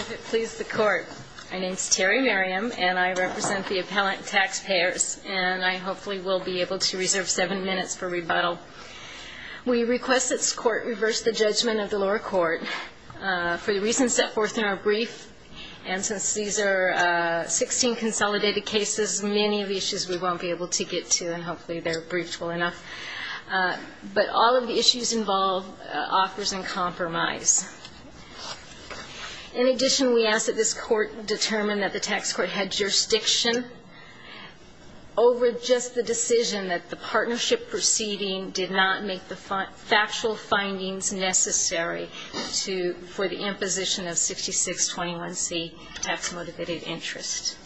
If it pleases the Court, my name is Terry Merriam, and I represent the appellant taxpayers, and I hopefully will be able to reserve seven minutes for rebuttal. We request that this Court reverse the judgment of the lower court for the reasons set forth in our brief, and since these are 16 consolidated cases, many of the issues we won't be able to get to, and hopefully they're briefed well enough. But all of the issues involved offers in compromise. In addition, we ask that this Court determine that the tax court had jurisdiction over just the decision that the partnership proceeding did not make the factual findings necessary for the imposition of 6621C tax-motivated interest.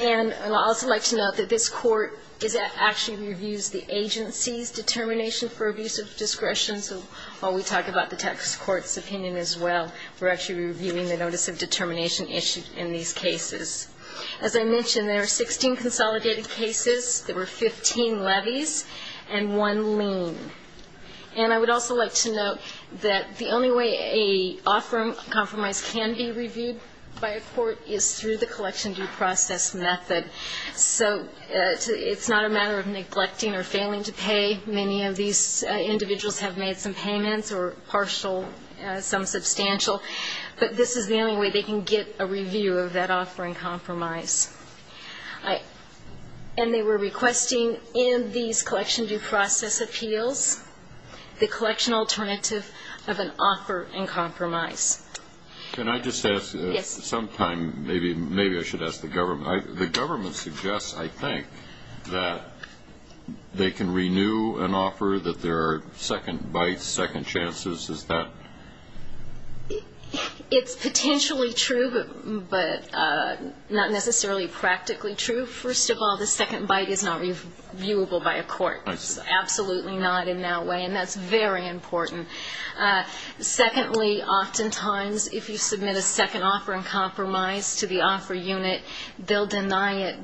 And I'd also like to note that this Court actually reviews the agency's determination for abuse of discretion. So while we talk about the tax court's opinion as well, we're actually reviewing the notice of determination issued in these cases. As I mentioned, there are 16 consolidated cases. There were 15 levies and one lien. And I would also like to note that the only way an offer of compromise can be reviewed by a court is through the collection due process method. So it's not a matter of neglecting or failing to pay. Many of these individuals have made some payments or partial, some substantial. But this is the only way they can get a review of that offer in compromise. And they were requesting in these collection due process appeals the collection alternative of an offer in compromise. Can I just ask sometime, maybe I should ask the government. The government suggests, I think, that they can renew an offer, that there are second bites, second chances. Is that? It's potentially true, but not necessarily practically true. First of all, the second bite is not reviewable by a court. It's absolutely not in that way. And that's very important. Secondly, oftentimes, if you submit a second offer in compromise to the offer unit, they'll deny it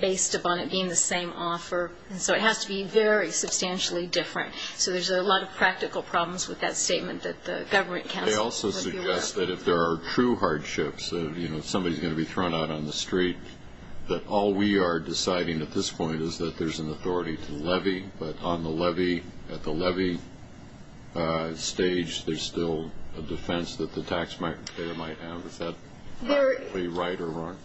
based upon it being the same offer. And so it has to be very substantially different. So there's a lot of practical problems with that statement that the government counsel would be aware of. They also suggest that if there are true hardships, you know, if somebody's going to be thrown out on the street, that all we are deciding at this point is that there's an authority to levy. But on the levy, at the levy stage, there's still a defense that the tax market there might have. Is that probably right or wrong?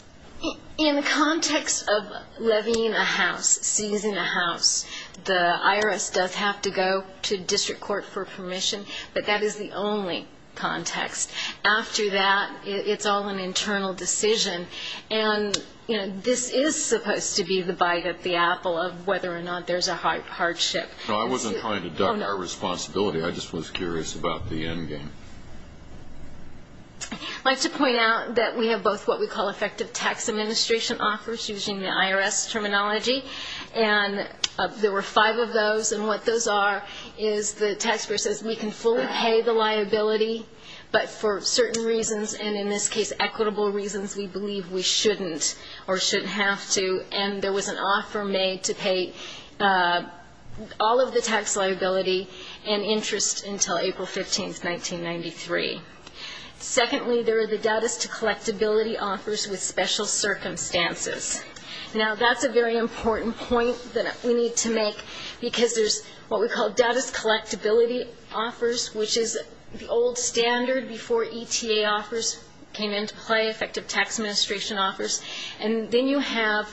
In the context of levying a house, seizing a house, the IRS does have to go to district court for permission. But that is the only context. After that, it's all an internal decision. And, you know, this is supposed to be the bite at the apple of whether or not there's a hardship. No, I wasn't trying to duck our responsibility. I just was curious about the end game. I'd like to point out that we have both what we call effective tax administration offers using the IRS terminology. And there were five of those. And what those are is the taxpayer says we can fully pay the liability, but for certain reasons, and in this case equitable reasons, we believe we shouldn't or shouldn't have to. And there was an offer made to pay all of the tax liability and interest until April 15, 1993. Secondly, there are the data's collectability offers with special circumstances. Now, that's a very important point that we need to make because there's what we call data's collectability offers, which is the old standard before ETA offers came into play, effective tax administration offers. And then you have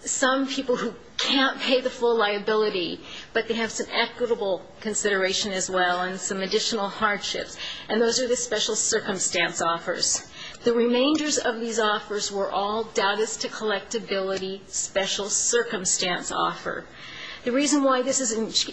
some people who can't pay the full liability, but they have some equitable consideration as well and some additional hardships. And those are the special circumstance offers. The remainders of these offers were all data's to collectability special circumstance offer. The reason why this is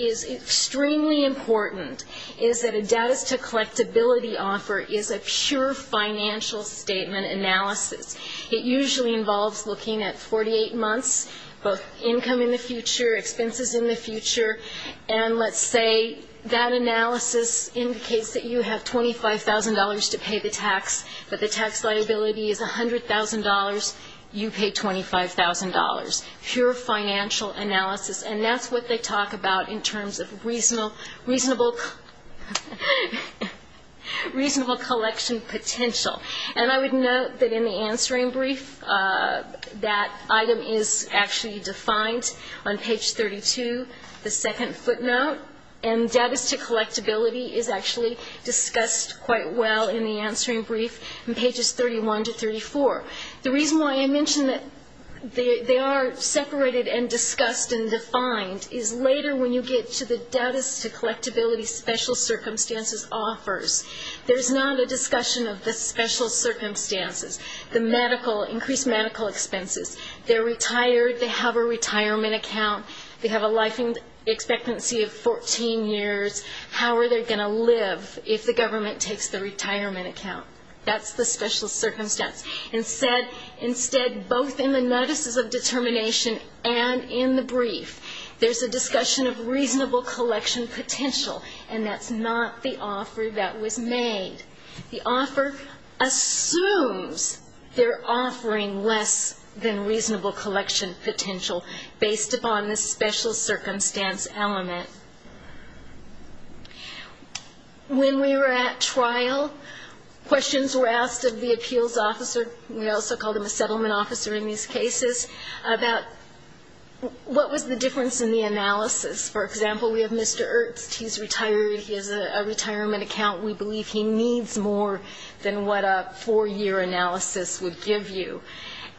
extremely important is that a data's to collectability offer is a pure financial statement analysis. It usually involves looking at 48 months, both income in the future, expenses in the future, and let's say that analysis indicates that you have $25,000 to pay the tax, that the tax liability is $100,000, you pay $25,000. Pure financial analysis. And that's what they talk about in terms of reasonable collectability collection potential. And I would note that in the answering brief, that item is actually defined on page 32, the second footnote. And data's to collectability is actually discussed quite well in the answering brief in pages 31 to 34. The reason why I mention that they are separated and discussed and defined is later when you get to the data's to collectability special circumstances offers. There's not a discussion of the special circumstances. The medical, increased medical expenses. They're retired. They have a retirement account. They have a life expectancy of 14 years. How are they going to live if the government takes the retirement account? That's the special circumstance. Instead, both in the notices of determination and in the brief, there's a discussion of reasonable collection potential. And that's not the offer that was made. The offer assumes they're offering less than reasonable collection potential based upon the special circumstance element. When we were at trial, questions were asked of the appeals officer. We also called him a settlement officer in these cases. About what was the difference in the analysis? For example, we have Mr. Ernst. He's retired. He has a retirement account. We believe he needs more than what a four-year analysis would give you.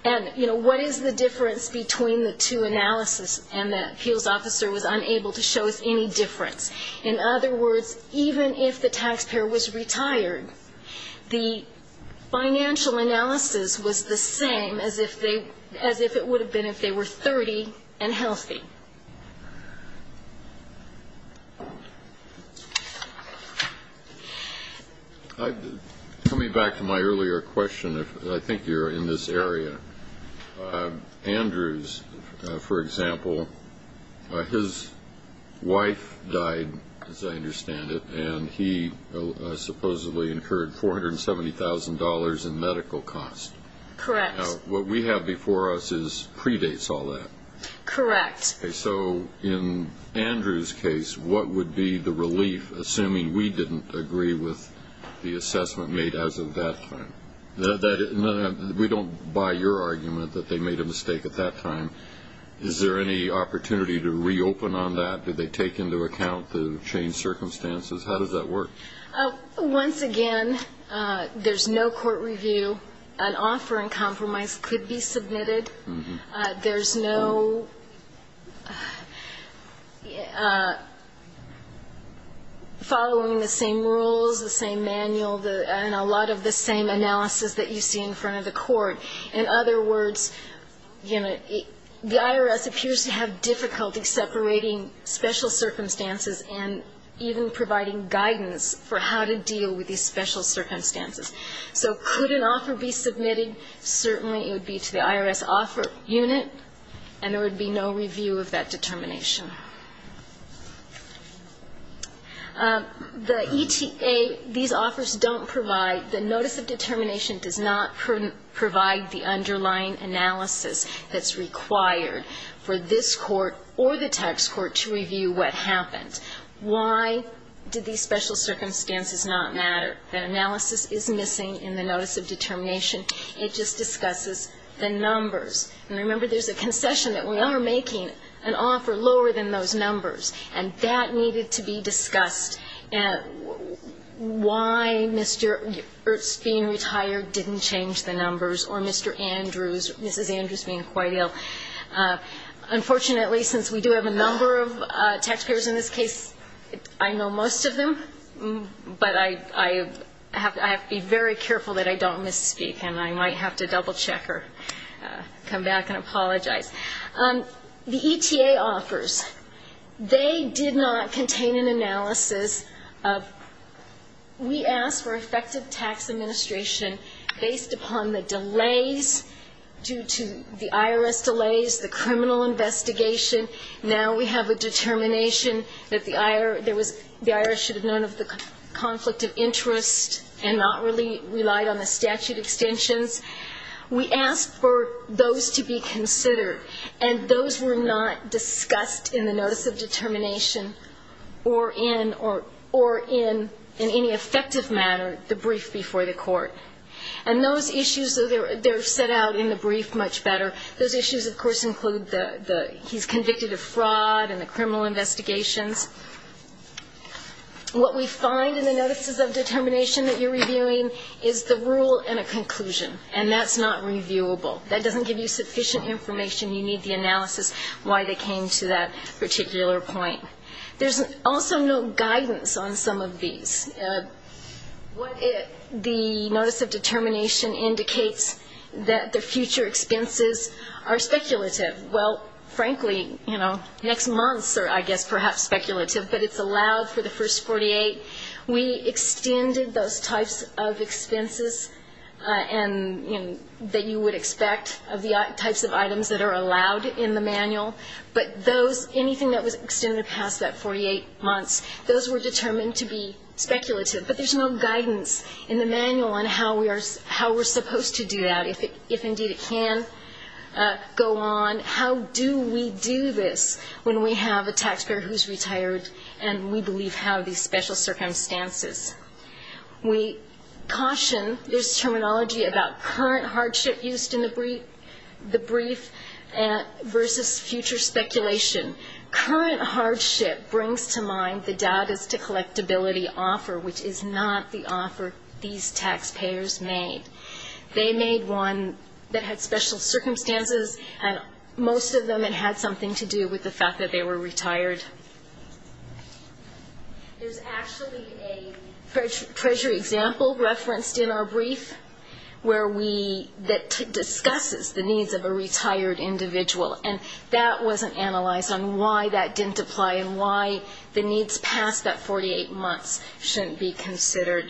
And what is the difference between the two analysis? And the appeals officer was unable to show us any difference. In other words, even if the taxpayer was retired, the financial analysis was the same as the if they as if it would have been if they were 30 and healthy. Coming back to my earlier question, I think you're in this area. Andrews, for example, his wife died, as I understand it, and he supposedly incurred $470,000 in medical costs. Correct. What we have before us predates all that. Correct. So in Andrews' case, what would be the relief, assuming we didn't agree with the assessment made as of that time? We don't buy your argument that they made a mistake at that time. Is there any opportunity to reopen on that? Did they take into account the changed circumstances? How does that work? Once again, there's no court review. An offer in compromise could be submitted. There's no following the same rules, the same manual, and a lot of the same analysis that you see in front of the court. In other words, the IRS appears to have difficulty separating special circumstances and even providing guidance for how to deal with these special circumstances. So could an offer be submitted? Certainly it would be to the IRS offer unit, and there would be no review of that determination. The ETA, these offers don't provide, the notice of determination does not provide the underlying analysis that's required for this court or the tax court to review what happened. Why did these special circumstances not matter? That analysis is missing in the notice of determination. It just discusses the numbers. And remember, there's a concession that we are making an offer lower than those numbers, and that needed to be discussed. Why Mr. Ertz being retired didn't change the numbers, or Mr. Andrews, Mrs. Andrews being quite ill. Unfortunately, since we do have a number of taxpayers in this case, I know most of them, but I have to be very careful that I don't misspeak, and I might have to double check or come back and apologize. The ETA offers, they did not contain an analysis of, we asked for effective tax administration based upon the delays due to the IRS delays, the criminal investigation. Now we have a determination that the IRS should have known of the conflict of interest and not relied on the statute extensions. We asked for those to be considered, and those were not discussed in the notice of determination or in any effective manner the brief before the court. And those issues, they're set out in the brief much better. Those issues, of course, include the, he's convicted of fraud and the criminal investigations. What we find in the notices of determination that you're reviewing is the rule and a conclusion, and that's not reviewable. That doesn't give you sufficient information. You need the analysis why they came to that particular point. There's also no guidance on some of these. What the notice of determination indicates that the future expenses are speculative. Well, frankly, you know, next month's are, I guess, perhaps speculative, but it's allowed for the first 48. We extended those types of expenses and, you know, that you would expect of the types of items that are allowed in the manual, but those, anything that was extended past that 48 months, those were determined to be speculative. But there's no guidance in the manual on how we are, how we're supposed to do that, if indeed it can go on. How do we do this when we have a taxpayer who's retired and we believe have these special circumstances? We caution, there's terminology about current hardship used in the brief versus future speculation. Current hardship brings to mind the doubt as to collectability offer, which is not the offer these taxpayers made. They made one that had special circumstances, and most of them it had something to do with the fact that they were retired. There's actually a treasury example referenced in our brief where we, that discusses the needs of a retired individual, and that wasn't analyzed on why that didn't apply and why the needs past that 48 months shouldn't be considered.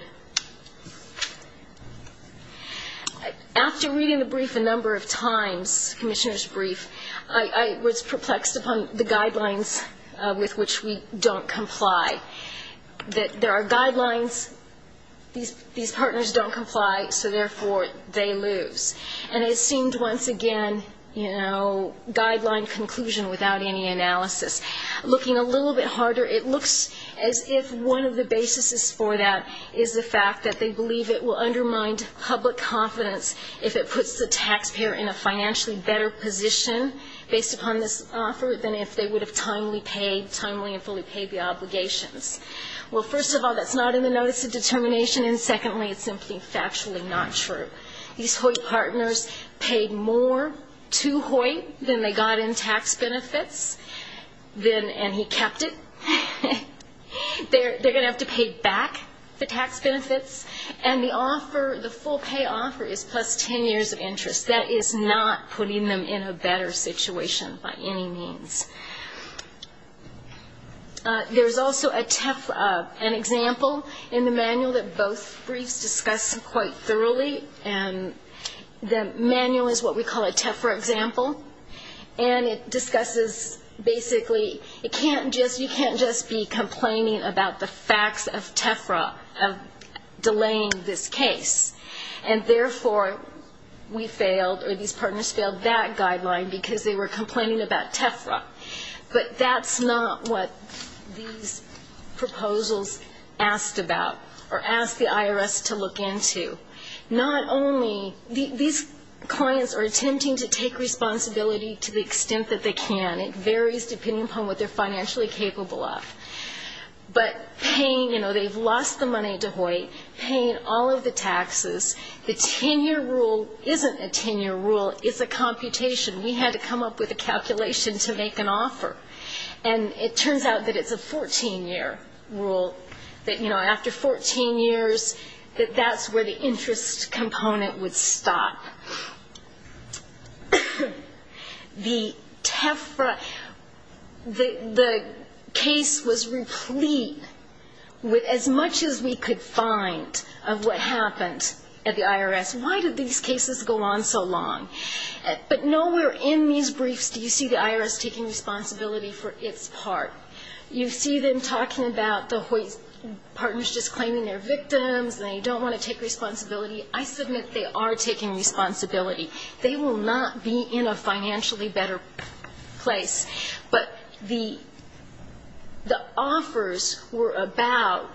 After reading the brief a number of times, Commissioner's brief, I was perplexed upon the guidelines with which we don't comply, that there are guidelines, these partners don't comply, so therefore they lose. And it seemed once again, you know, guideline conclusion without any analysis. Looking a little bit harder, it looks as if one of the basis for that is the fact that they believe it will undermine public confidence if it would have timely paid, timely and fully paid the obligations. Well first of all, that's not in the notice of determination, and secondly, it's simply factually not true. These Hoyt partners paid more to Hoyt than they got in tax benefits, and he kept it. They're going to have to pay back the tax benefits, and the offer, the full pay offer is plus 10 years of interest. That is not putting them in a better situation by any means. There's also a TEFRA, an example in the manual that both briefs discuss quite thoroughly, and the manual is what we call a TEFRA example, and it discusses basically, it can't just, you can't just be complaining about the facts of TEFRA, of delaying this case, and therefore we failed, or these partners failed that guideline because they were complaining about TEFRA. But that's not what these proposals asked about, or asked the IRS to look into. Not only, these clients are attempting to take responsibility to the extent that they can. It varies depending upon what they're financially capable of. But paying, you know, they've lost the money to Hoyt, paying all of the taxes, the 10-year rule isn't a 10-year rule, it's a computation. We had to come up with a calculation to make an offer. And it turns out that it's a 14-year rule, that, you know, after 14 years, that that's where the interest component would stop. The TEFRA, the case was replete with as much as we could find of what happened at the IRS. Why did these cases go on so long? But nowhere in these briefs do you see the IRS taking responsibility for its part. You see them talking about the Hoyt partners just claiming they're victims, they don't want to take responsibility. I submit they are taking responsibility. They will not be in a financially better place. But the offers were about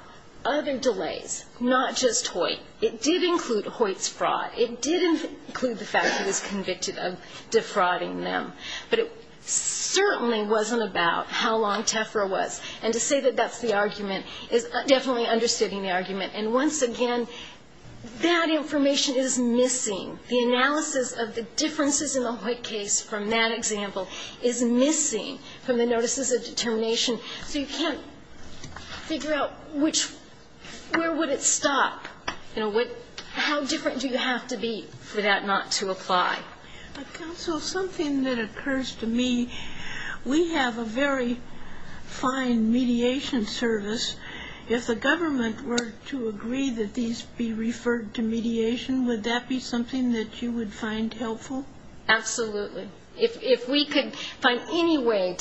other delays, not just Hoyt. It did include Hoyt's fraud. It did include the fact that he was convicted of defrauding them. But it certainly wasn't about how long TEFRA was. And to say that that's the argument is definitely understating the argument. And once again, that information is missing. The analysis of the differences in the Hoyt case from that example is missing from the notices of determination. So you can't figure out which – where would it stop? You know, what – how different do you have to be for that not to apply? But, counsel, something that occurs to me, we have a very fine mediation service. If the government were to agree that these be referred to mediation, would that be something that you would find helpful? Absolutely. If we could find any way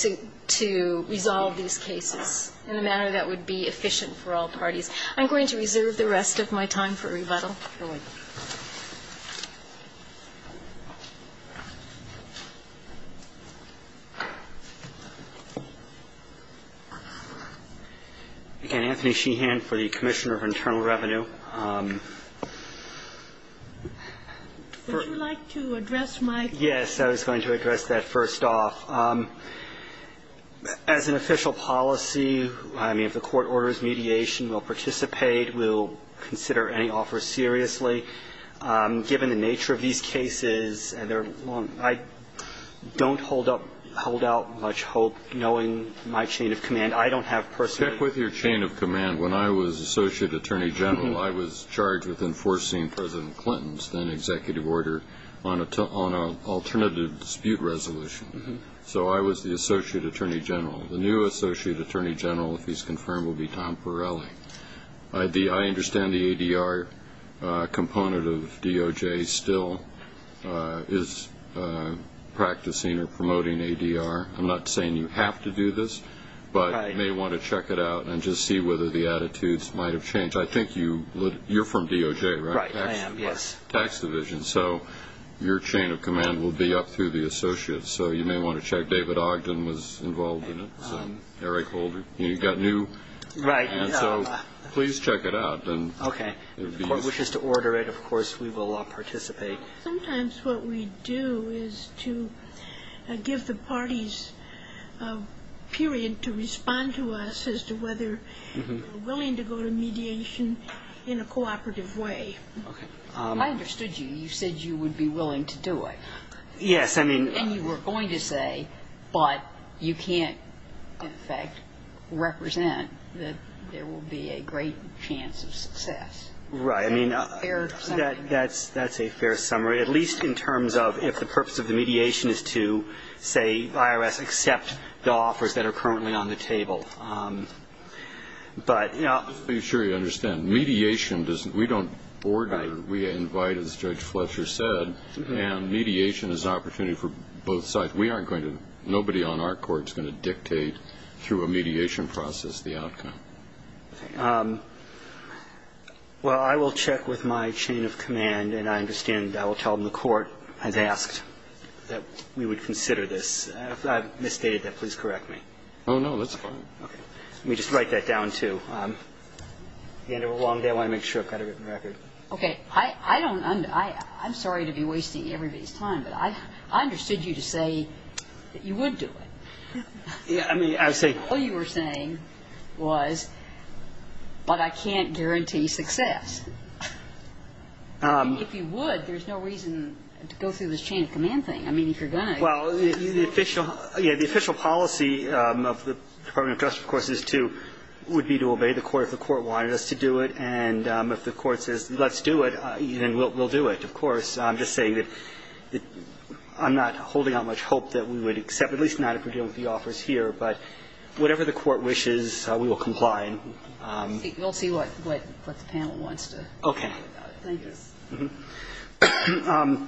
to resolve these cases in a manner that would be efficient for all parties. I'm going to reserve the rest of my time for rebuttal. Go ahead. Anthony Sheehan for the Commissioner of Internal Revenue. Would you like to address my question? Yes. I was going to address that first off. As an official policy, I mean, if the court is going to take a case like this seriously, given the nature of these cases, I don't hold up – hold out much hope knowing my chain of command. I don't have personal – Stick with your chain of command. When I was Associate Attorney General, I was charged with enforcing President Clinton's then-executive order on an alternative dispute resolution. So I was the Associate Attorney General. The new Associate Attorney General, if he's going to extend the ADR component of DOJ, still is practicing or promoting ADR. I'm not saying you have to do this, but you may want to check it out and just see whether the attitudes might have changed. I think you – you're from DOJ, right? Right. I am, yes. Tax Division. So your chain of command will be up through the Associates. So you may want to check. David Ogden was involved in it. Eric Holder. You've got new – Right. Please check it out. Okay. If the Court wishes to order it, of course, we will all participate. Sometimes what we do is to give the parties a period to respond to us as to whether they're willing to go to mediation in a cooperative way. Okay. I understood you. You said you would be willing to do it. Yes, I mean – And you were going to say, but you can't, in fact, represent that there will be a great chance of success. Right. I mean – Fair summary. That's a fair summary, at least in terms of if the purpose of the mediation is to, say, IRS accept the offers that are currently on the table. But – Just to be sure you understand, mediation doesn't – we don't order. Right. We invite, as Judge Fletcher said, and mediation is an opportunity for both sides. We aren't going to – nobody on our court is going to dictate through a mediation process the outcome. Well, I will check with my chain of command, and I understand – I will tell them the Court has asked that we would consider this. If I've misstated that, please correct me. Oh, no. That's fine. Okay. Let me just write that down, too. At the end of a long day, I want to make sure I've got a written record. Okay. I don't – I'm sorry to be wasting everybody's time, but I understood you to say that you would do it. Yeah. I mean, I was saying – All you were saying was, but I can't guarantee success. If you would, there's no reason to go through this chain of command thing. I mean, if you're going to – Well, the official policy of the Department of Justice, of course, is to – would The Court says, let's do it, and we'll do it, of course. I'm just saying that I'm not holding out much hope that we would accept, at least not if we're dealing with the offers here. But whatever the Court wishes, we will comply. We'll see what the panel wants to say about it. Okay. Thank you.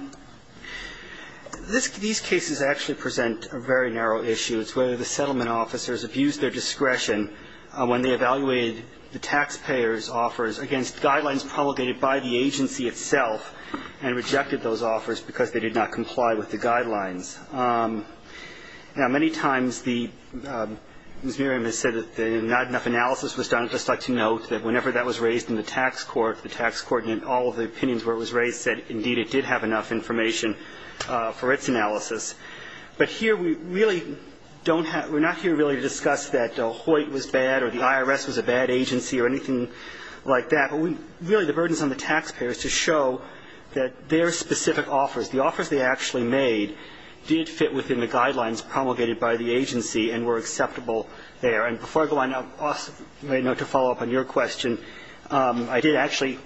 These cases actually present a very narrow issue. It's whether the settlement officers have used their discretion when they evaluated the taxpayers' offers against guidelines promulgated by the agency itself and rejected those offers because they did not comply with the guidelines. Now, many times the – Ms. Miriam has said that not enough analysis was done. I'd just like to note that whenever that was raised in the tax court, the tax court in all of the opinions where it was raised said, indeed, it did have enough information for its analysis. But here we really don't have – we're not here really to discuss that Hoyt was bad or the IRS was a bad agency or anything like that. But we – really the burden is on the taxpayers to show that their specific offers, the offers they actually made, did fit within the guidelines promulgated by the agency and were acceptable there. And before I go on, I may note to follow up on your question, I did actually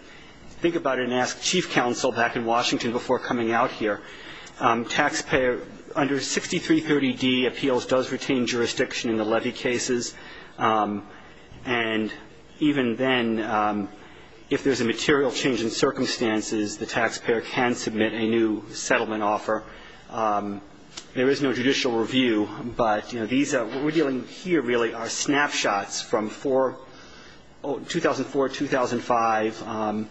think about it and ask chief counsel back in Washington before coming out here. Taxpayer – under 6330D appeals does retain jurisdiction in the levy cases. And even then, if there's a material change in circumstances, the taxpayer can submit a new settlement offer. There is no judicial review, but these – what we're dealing with here really are snapshots from 2004, 2005,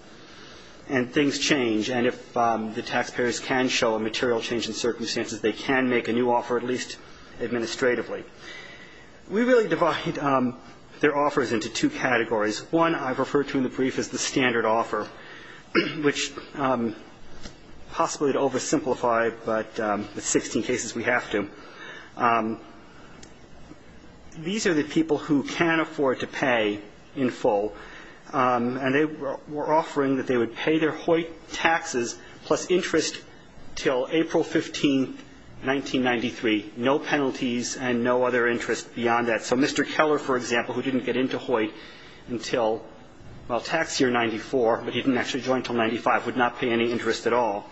and things change. And if the taxpayers can show a material change in circumstances, they can make a new offer, at least administratively. We really divide their offers into two categories. One I refer to in the brief as the standard offer, which possibly to oversimplify, but in 16 cases we have to. These are the people who can afford to pay in full. And they were offering that they would pay their Hoyt taxes plus interest until April 15, 1993, no penalties and no other interest beyond that. So Mr. Keller, for example, who didn't get into Hoyt until, well, tax year 94, but he didn't actually join until 95, would not pay any interest at all.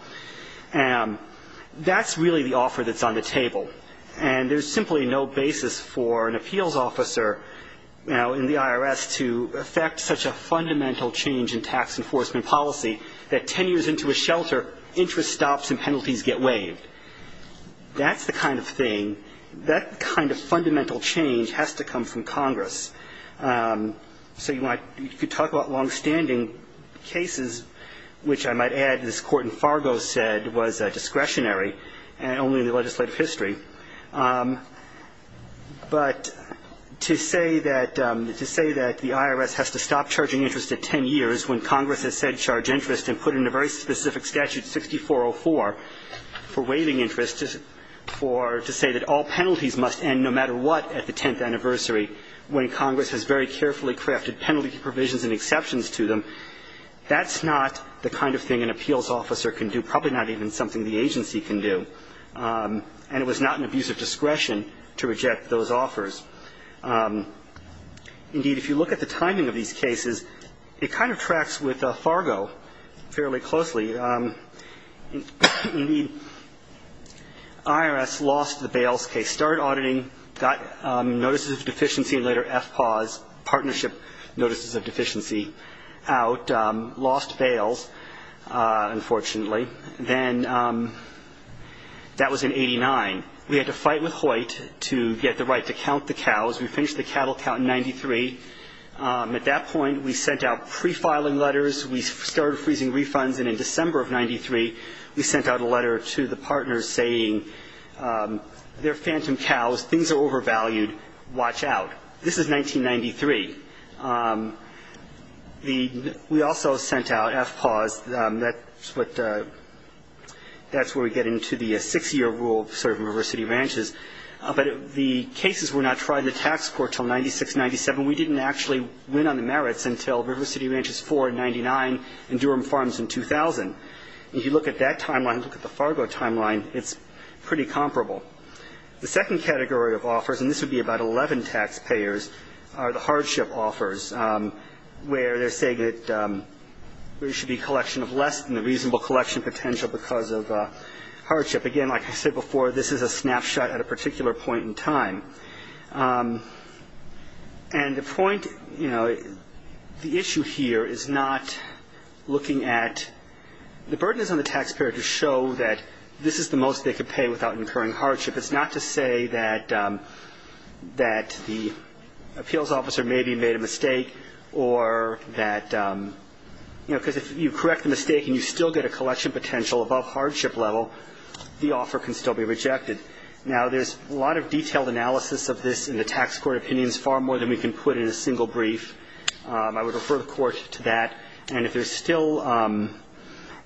That's really the offer that's on the table. And there's simply no basis for an appeals officer, you know, in the IRS to effect such a fundamental change in tax enforcement policy that 10 years into a shelter, interest stops and penalties get waived. That's the kind of thing, that kind of fundamental change has to come from Congress. So you could talk about longstanding cases, which I might add this court in Fargo said was discretionary and only in the legislative history. But to say that the IRS has to stop charging interest at 10 years when Congress has said charge interest and put in a very specific statute, 6404, for waiving interest, to say that all penalties must end no matter what at the 10th anniversary when Congress has very carefully crafted penalty provisions and exceptions to them, that's not the kind of thing an appeals officer can do, probably not even something the agency can do. And it was not an abuse of discretion to reject those offers. Indeed, if you look at the timing of these cases, it kind of tracks with Fargo fairly closely. Indeed, IRS lost the Bales case, started auditing, got notices of deficiency and later FPAWS, Partnership Notices of Deficiency, out, lost Bales, unfortunately. Then that was in 89. We had to fight with Hoyt to get the right to count the cows. We finished the cattle count in 93. At that point, we sent out prefiling letters. We started freezing refunds. And in December of 93, we sent out a letter to the partners saying, they're phantom cows, things are overvalued, watch out. This is 1993. We also sent out FPAWS. That's where we get into the six-year rule for River City Ranchers. But the cases were not tried in the tax court until 96, 97. We didn't actually win on the merits until River City Ranchers 4 in 99 and Durham Farms in 2000. If you look at that timeline, look at the Fargo timeline, it's pretty comparable. The second category of offers, and this would be about 11 taxpayers, are the hardship offers, where they're saying that there should be a collection of less than the reasonable collection potential because of hardship. Again, like I said before, this is a snapshot at a particular point in time. And the point, you know, the issue here is not looking at the burden is on the taxpayer to show that this is the most they could pay without incurring hardship. It's not to say that the appeals officer maybe made a mistake or that, you know, because if you correct the mistake and you still get a collection potential above hardship level, the offer can still be rejected. Now, there's a lot of detailed analysis of this in the tax court opinions, far more than we can put in a single brief. I would refer the court to that. And if there's still an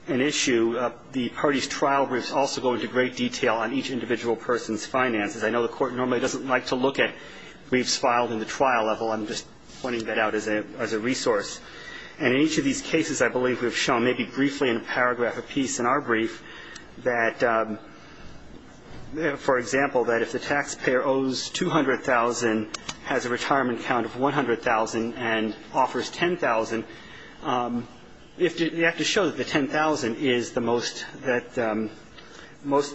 issue, the party's trial briefs also go into great detail on each individual person's finances. I know the court normally doesn't like to look at briefs filed in the trial level. I'm just pointing that out as a resource. And in each of these cases, I believe we've shown maybe briefly in a paragraph apiece in our brief that, for example, that if the taxpayer owes $200,000, has a retirement count of $100,000, and offers $10,000, they have to show that the $10,000 is the most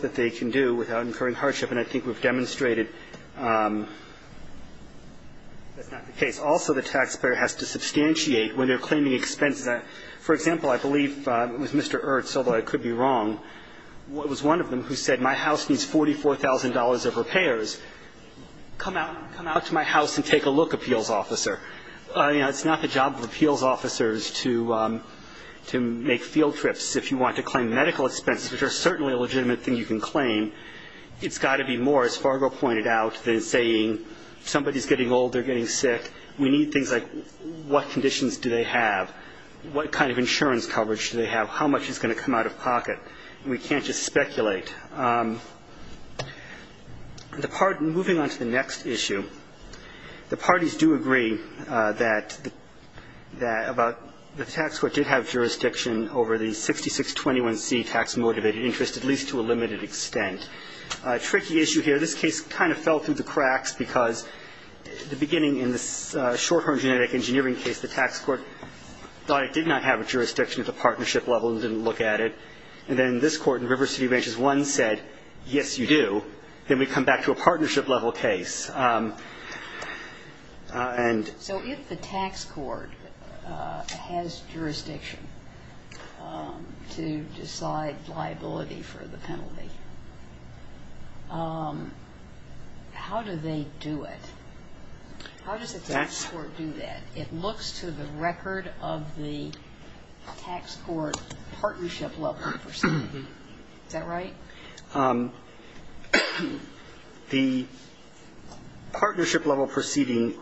that they can do without incurring hardship. And I think we've demonstrated that's not the case. Also, the taxpayer has to substantiate when they're claiming expenses. For example, I believe it was Mr. Ertz, although I could be wrong, was one of them who said, my house needs $44,000 of repairs. Come out to my house and take a look, appeals officer. It's not the job of appeals officers to make field trips. If you want to claim medical expenses, which are certainly a legitimate thing you can claim, it's got to be more, as Fargo pointed out, than saying somebody's getting old, they're getting sick. We need things like what conditions do they have, what kind of insurance coverage do they have, how much is going to come out of pocket. We can't just speculate. Moving on to the next issue, the parties do agree that the tax court did have jurisdiction over the 6621C tax-motivated interest, at least to a limited extent. A tricky issue here, this case kind of fell through the cracks, because at the beginning in the Shorthorn Genetic Engineering case, the tax court thought it did not have a jurisdiction at the partnership level and didn't look at it. And then this court in River City Branches 1 said, yes, you do. Then we come back to a partnership level case. So if the tax court has jurisdiction to decide liability for the penalty, how do they do it? How does the tax court do that? It looks to the record of the tax court partnership level proceeding. Is that right? The partnership level proceeding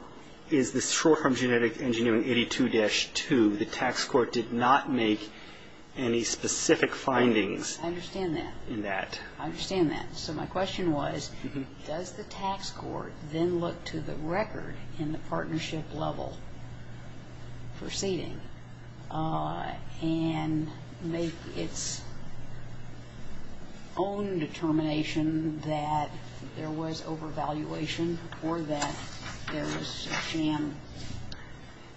is the Shorthorn Genetic Engineering 82-2. The tax court did not make any specific findings in that. I understand that. I understand that. So my question was, does the tax court then look to the record in the partnership level proceeding and make its own determination that there was overvaluation or that there was a jam?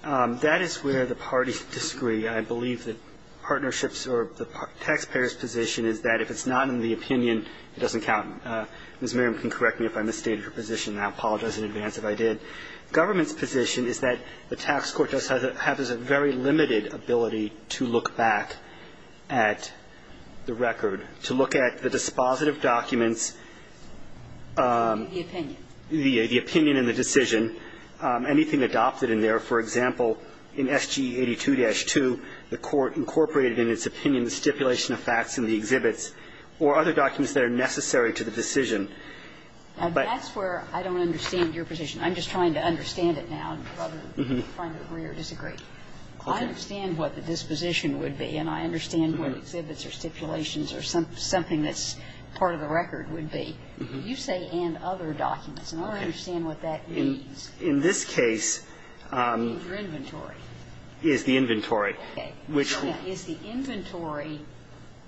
That is where the parties disagree. I believe that partnerships or the taxpayer's position is that if it's not in the opinion, it doesn't count. Ms. Miriam can correct me if I misstated her position, and I apologize in advance if I did. Government's position is that the tax court does have a very limited ability to look back at the record, to look at the dispositive documents, the opinion and the decision, anything adopted in there. For example, in SG 82-2, the court incorporated in its opinion the stipulation of facts in the exhibits or other documents that are necessary to the decision. That's where I don't understand your position. I'm just trying to understand it now rather than trying to agree or disagree. I understand what the disposition would be, and I understand what exhibits or stipulations or something that's part of the record would be. You say and other documents, and I don't understand what that means. In this case the inventory. Is the inventory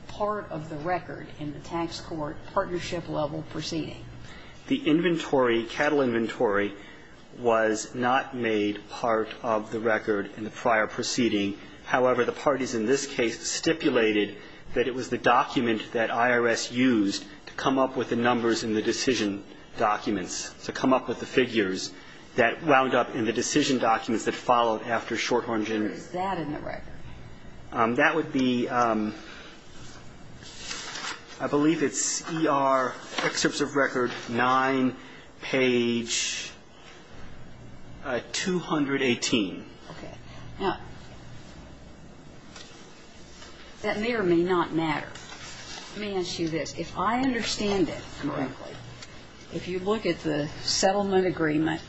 part of the record in the tax court partnership level proceeding? The inventory, cattle inventory, was not made part of the record in the prior proceeding. However, the parties in this case stipulated that it was the document that IRS used to come up with the numbers in the decision documents, to come up with the figures that wound up in the decision documents that followed after Shorthorn generated. Is that in the record? That would be, I believe it's ER Excerpts of Record 9, page 218. Okay. Now, that may or may not matter. Let me ask you this. If I understand it correctly, if you look at the settlement agreement,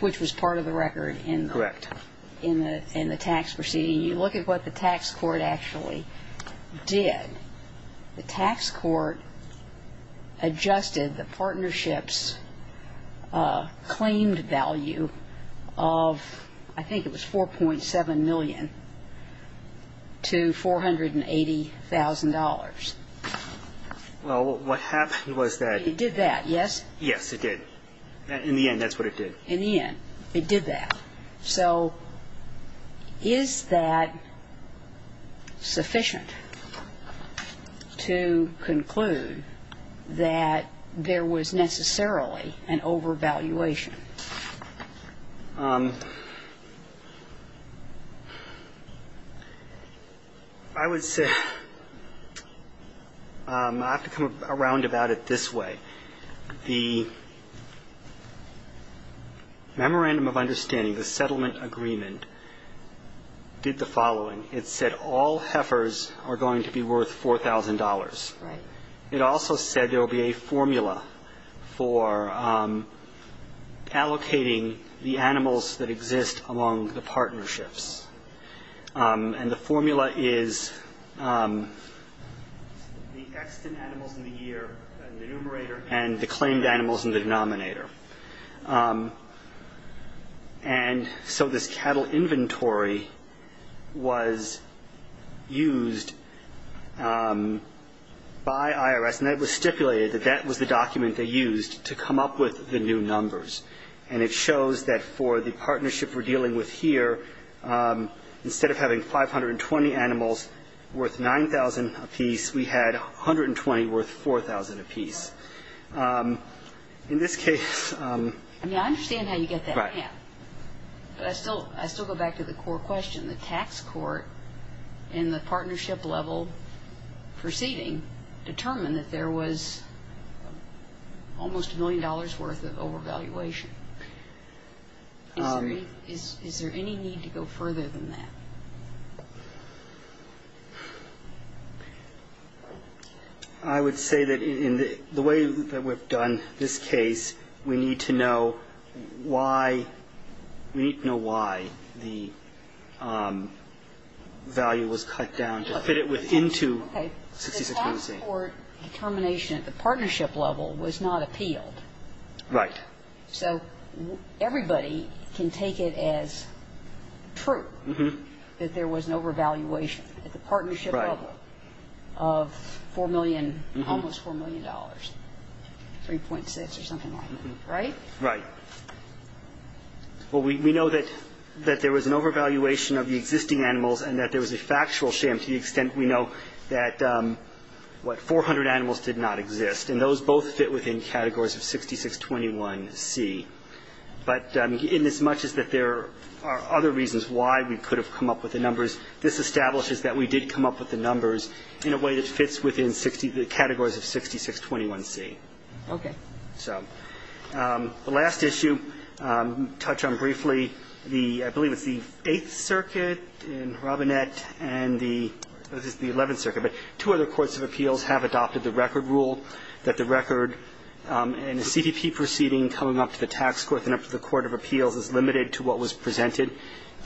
which was part of the record in the tax proceeding, and you look at what the tax court actually did, the tax court adjusted the partnership's claimed value of, I think it was $4.7 million, to $480,000. Well, what happened was that... It did that, yes? Yes, it did. In the end, that's what it did. In the end, it did that. So is that sufficient to conclude that there was necessarily an overvaluation? I would say, I have to come around about it this way. The Memorandum of Understanding, the settlement agreement, did the following. It said all heifers are going to be worth $4,000. Right. It also said there will be a formula for allocating the animals that exist among the partnerships. And the formula is the extant animals in the year in the numerator and the claimed animals in the denominator. And so this cattle inventory was used by IRS, and it was stipulated that that was the document they used to come up with the new numbers. And it shows that for the partnership we're dealing with here, instead of having 520 animals worth $9,000 apiece, we had 120 worth $4,000 apiece. In this case... I mean, I understand how you get that math. But I still go back to the core question. The tax court in the partnership level proceeding determined that there was almost $1 million worth of overvaluation. Is there any need to go further than that? I would say that in the way that we've done this case, we need to know why the value was cut down to fit it into 6618. Okay. The tax court determination at the partnership level was not appealed. Right. So everybody can take it as true that there was an overvaluation at the partnership level of $4 million, $3.6 or something like that, right? Right. Well, we know that there was an overvaluation of the existing animals and that there was a factual sham to the extent we know that, what, 400 animals did not exist. And those both fit within categories of 6621C. But inasmuch as that there are other reasons why we could have come up with the numbers, this establishes that we did come up with the numbers in a way that fits within the categories of 6621C. Okay. So the last issue, touch on briefly, I believe it's the Eighth Circuit in Robinette and the 11th Circuit, but two other courts of appeals have adopted the record rule that the record in a CPP proceeding coming up to the tax court and up to the court of appeals is limited to what was presented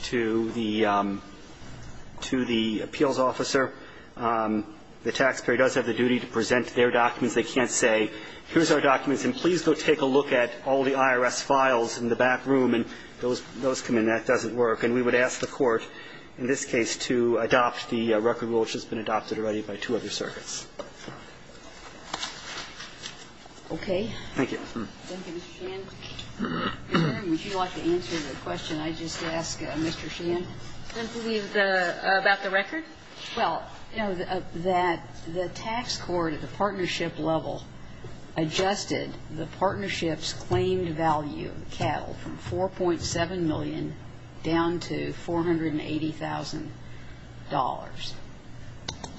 to the appeals officer. The taxpayer does have the duty to present their documents. They can't say here's our documents and please go take a look at all the IRS files in the back room and those come in. That doesn't work. And we would ask the court in this case to adopt the record rule, which has been adopted already by two other circuits. Okay. Thank you. Thank you, Mr. Sheehan. Karen, would you like to answer the question I just asked Mr. Sheehan? About the record? Well, you know, that the tax court at the partnership level adjusted the partnership's claimed value of cattle from $4.7 million down to $480,000.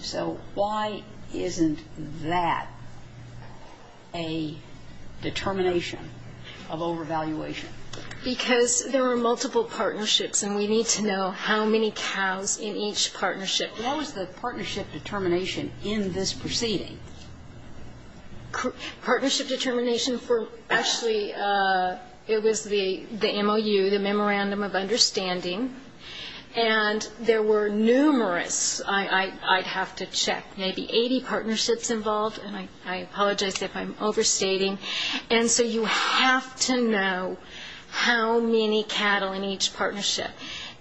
So why isn't that a determination of overvaluation? Because there are multiple partnerships and we need to know how many cows in each partnership. What was the partnership determination in this proceeding? Partnership determination for actually it was the MOU, the Memorandum of Understanding, and there were numerous, I'd have to check, maybe 80 partnerships involved, and I apologize if I'm overstating. And so you have to know how many cattle in each partnership.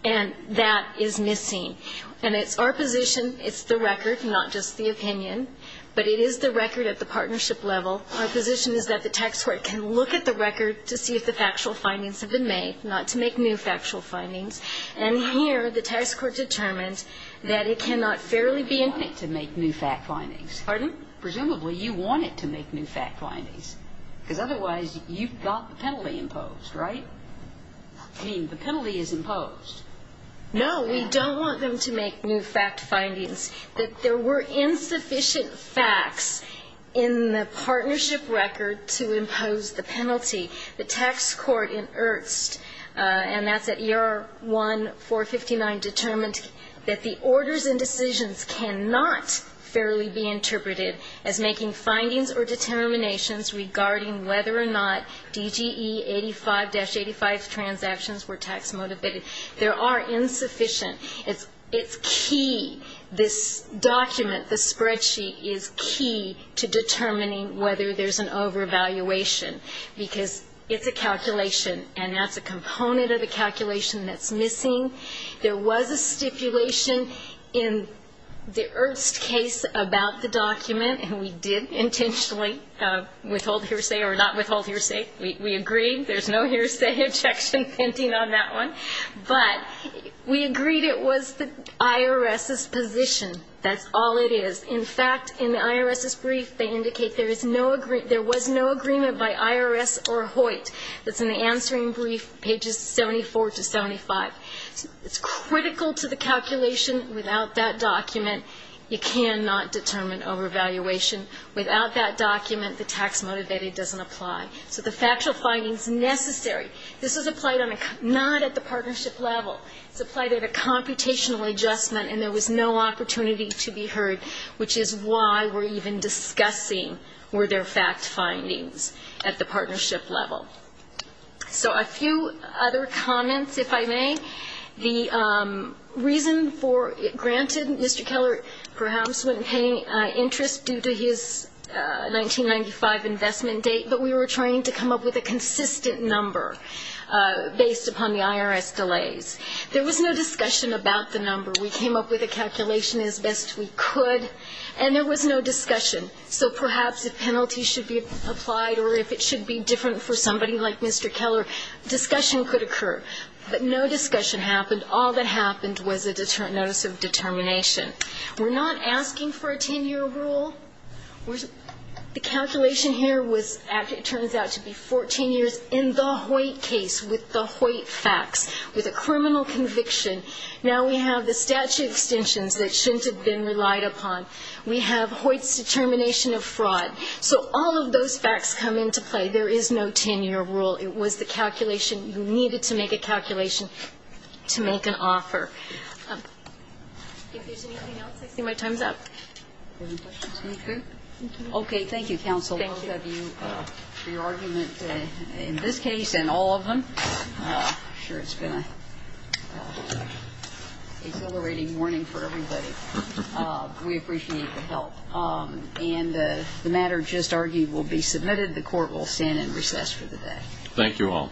And that is missing. And it's our position, it's the record, not just the opinion, but it is the record at the partnership level. Our position is that the tax court can look at the record to see if the factual findings have been made, not to make new factual findings. And here the tax court determines that it cannot fairly be input. You want it to make new fact findings. Pardon? Presumably you want it to make new fact findings, because otherwise you've got the penalty imposed, right? I mean, the penalty is imposed. No, we don't want them to make new fact findings, that there were insufficient facts in the partnership record to impose the penalty. The tax court in Ernst, and that's at ER 1459, determined that the orders and decisions cannot fairly be interpreted as making findings or determinations regarding whether or not DGE 85-85 transactions were tax motivated. There are insufficient. It's key, this document, this spreadsheet, is key to determining whether there's an overvaluation, because it's a calculation, and that's a component of the calculation that's missing. There was a stipulation in the Ernst case about the document, and we did intentionally withhold hearsay or not withhold hearsay. We agreed. There's no hearsay objection pending on that one. But we agreed it was the IRS's position. That's all it is. In fact, in the IRS's brief, they indicate there was no agreement by IRS or Hoyt. That's in the answering brief, pages 74 to 75. It's critical to the calculation. Without that document, you cannot determine overvaluation. Without that document, the tax motivated doesn't apply. So the factual finding is necessary. This is applied not at the partnership level. It's applied at a computational adjustment, and there was no opportunity to be heard, which is why we're even discussing were there fact findings at the partnership level. So a few other comments, if I may. The reason for it, granted, Mr. Keller perhaps wasn't paying interest due to his 1995 investment date, but we were trying to come up with a consistent number based upon the IRS delays. There was no discussion about the number. We came up with a calculation as best we could, and there was no discussion. So perhaps if penalties should be applied or if it should be different for somebody like Mr. Keller, discussion could occur. But no discussion happened. All that happened was a notice of determination. We're not asking for a 10-year rule. The calculation here was, it turns out to be 14 years in the Hoyt case with the Hoyt facts, with a criminal conviction. Now we have the statute extensions that shouldn't have been relied upon. We have Hoyt's determination of fraud. So all of those facts come into play. There is no 10-year rule. It was the calculation. You needed to make a calculation to make an offer. If there's anything else, I see my time's up. Any questions? Anything? Okay. Thank you, counsel, both of you for your argument in this case and all of them. I'm sure it's been an exhilarating morning for everybody. We appreciate the help. And the matter just argued will be submitted. The court will stand in recess for the day. Thank you all.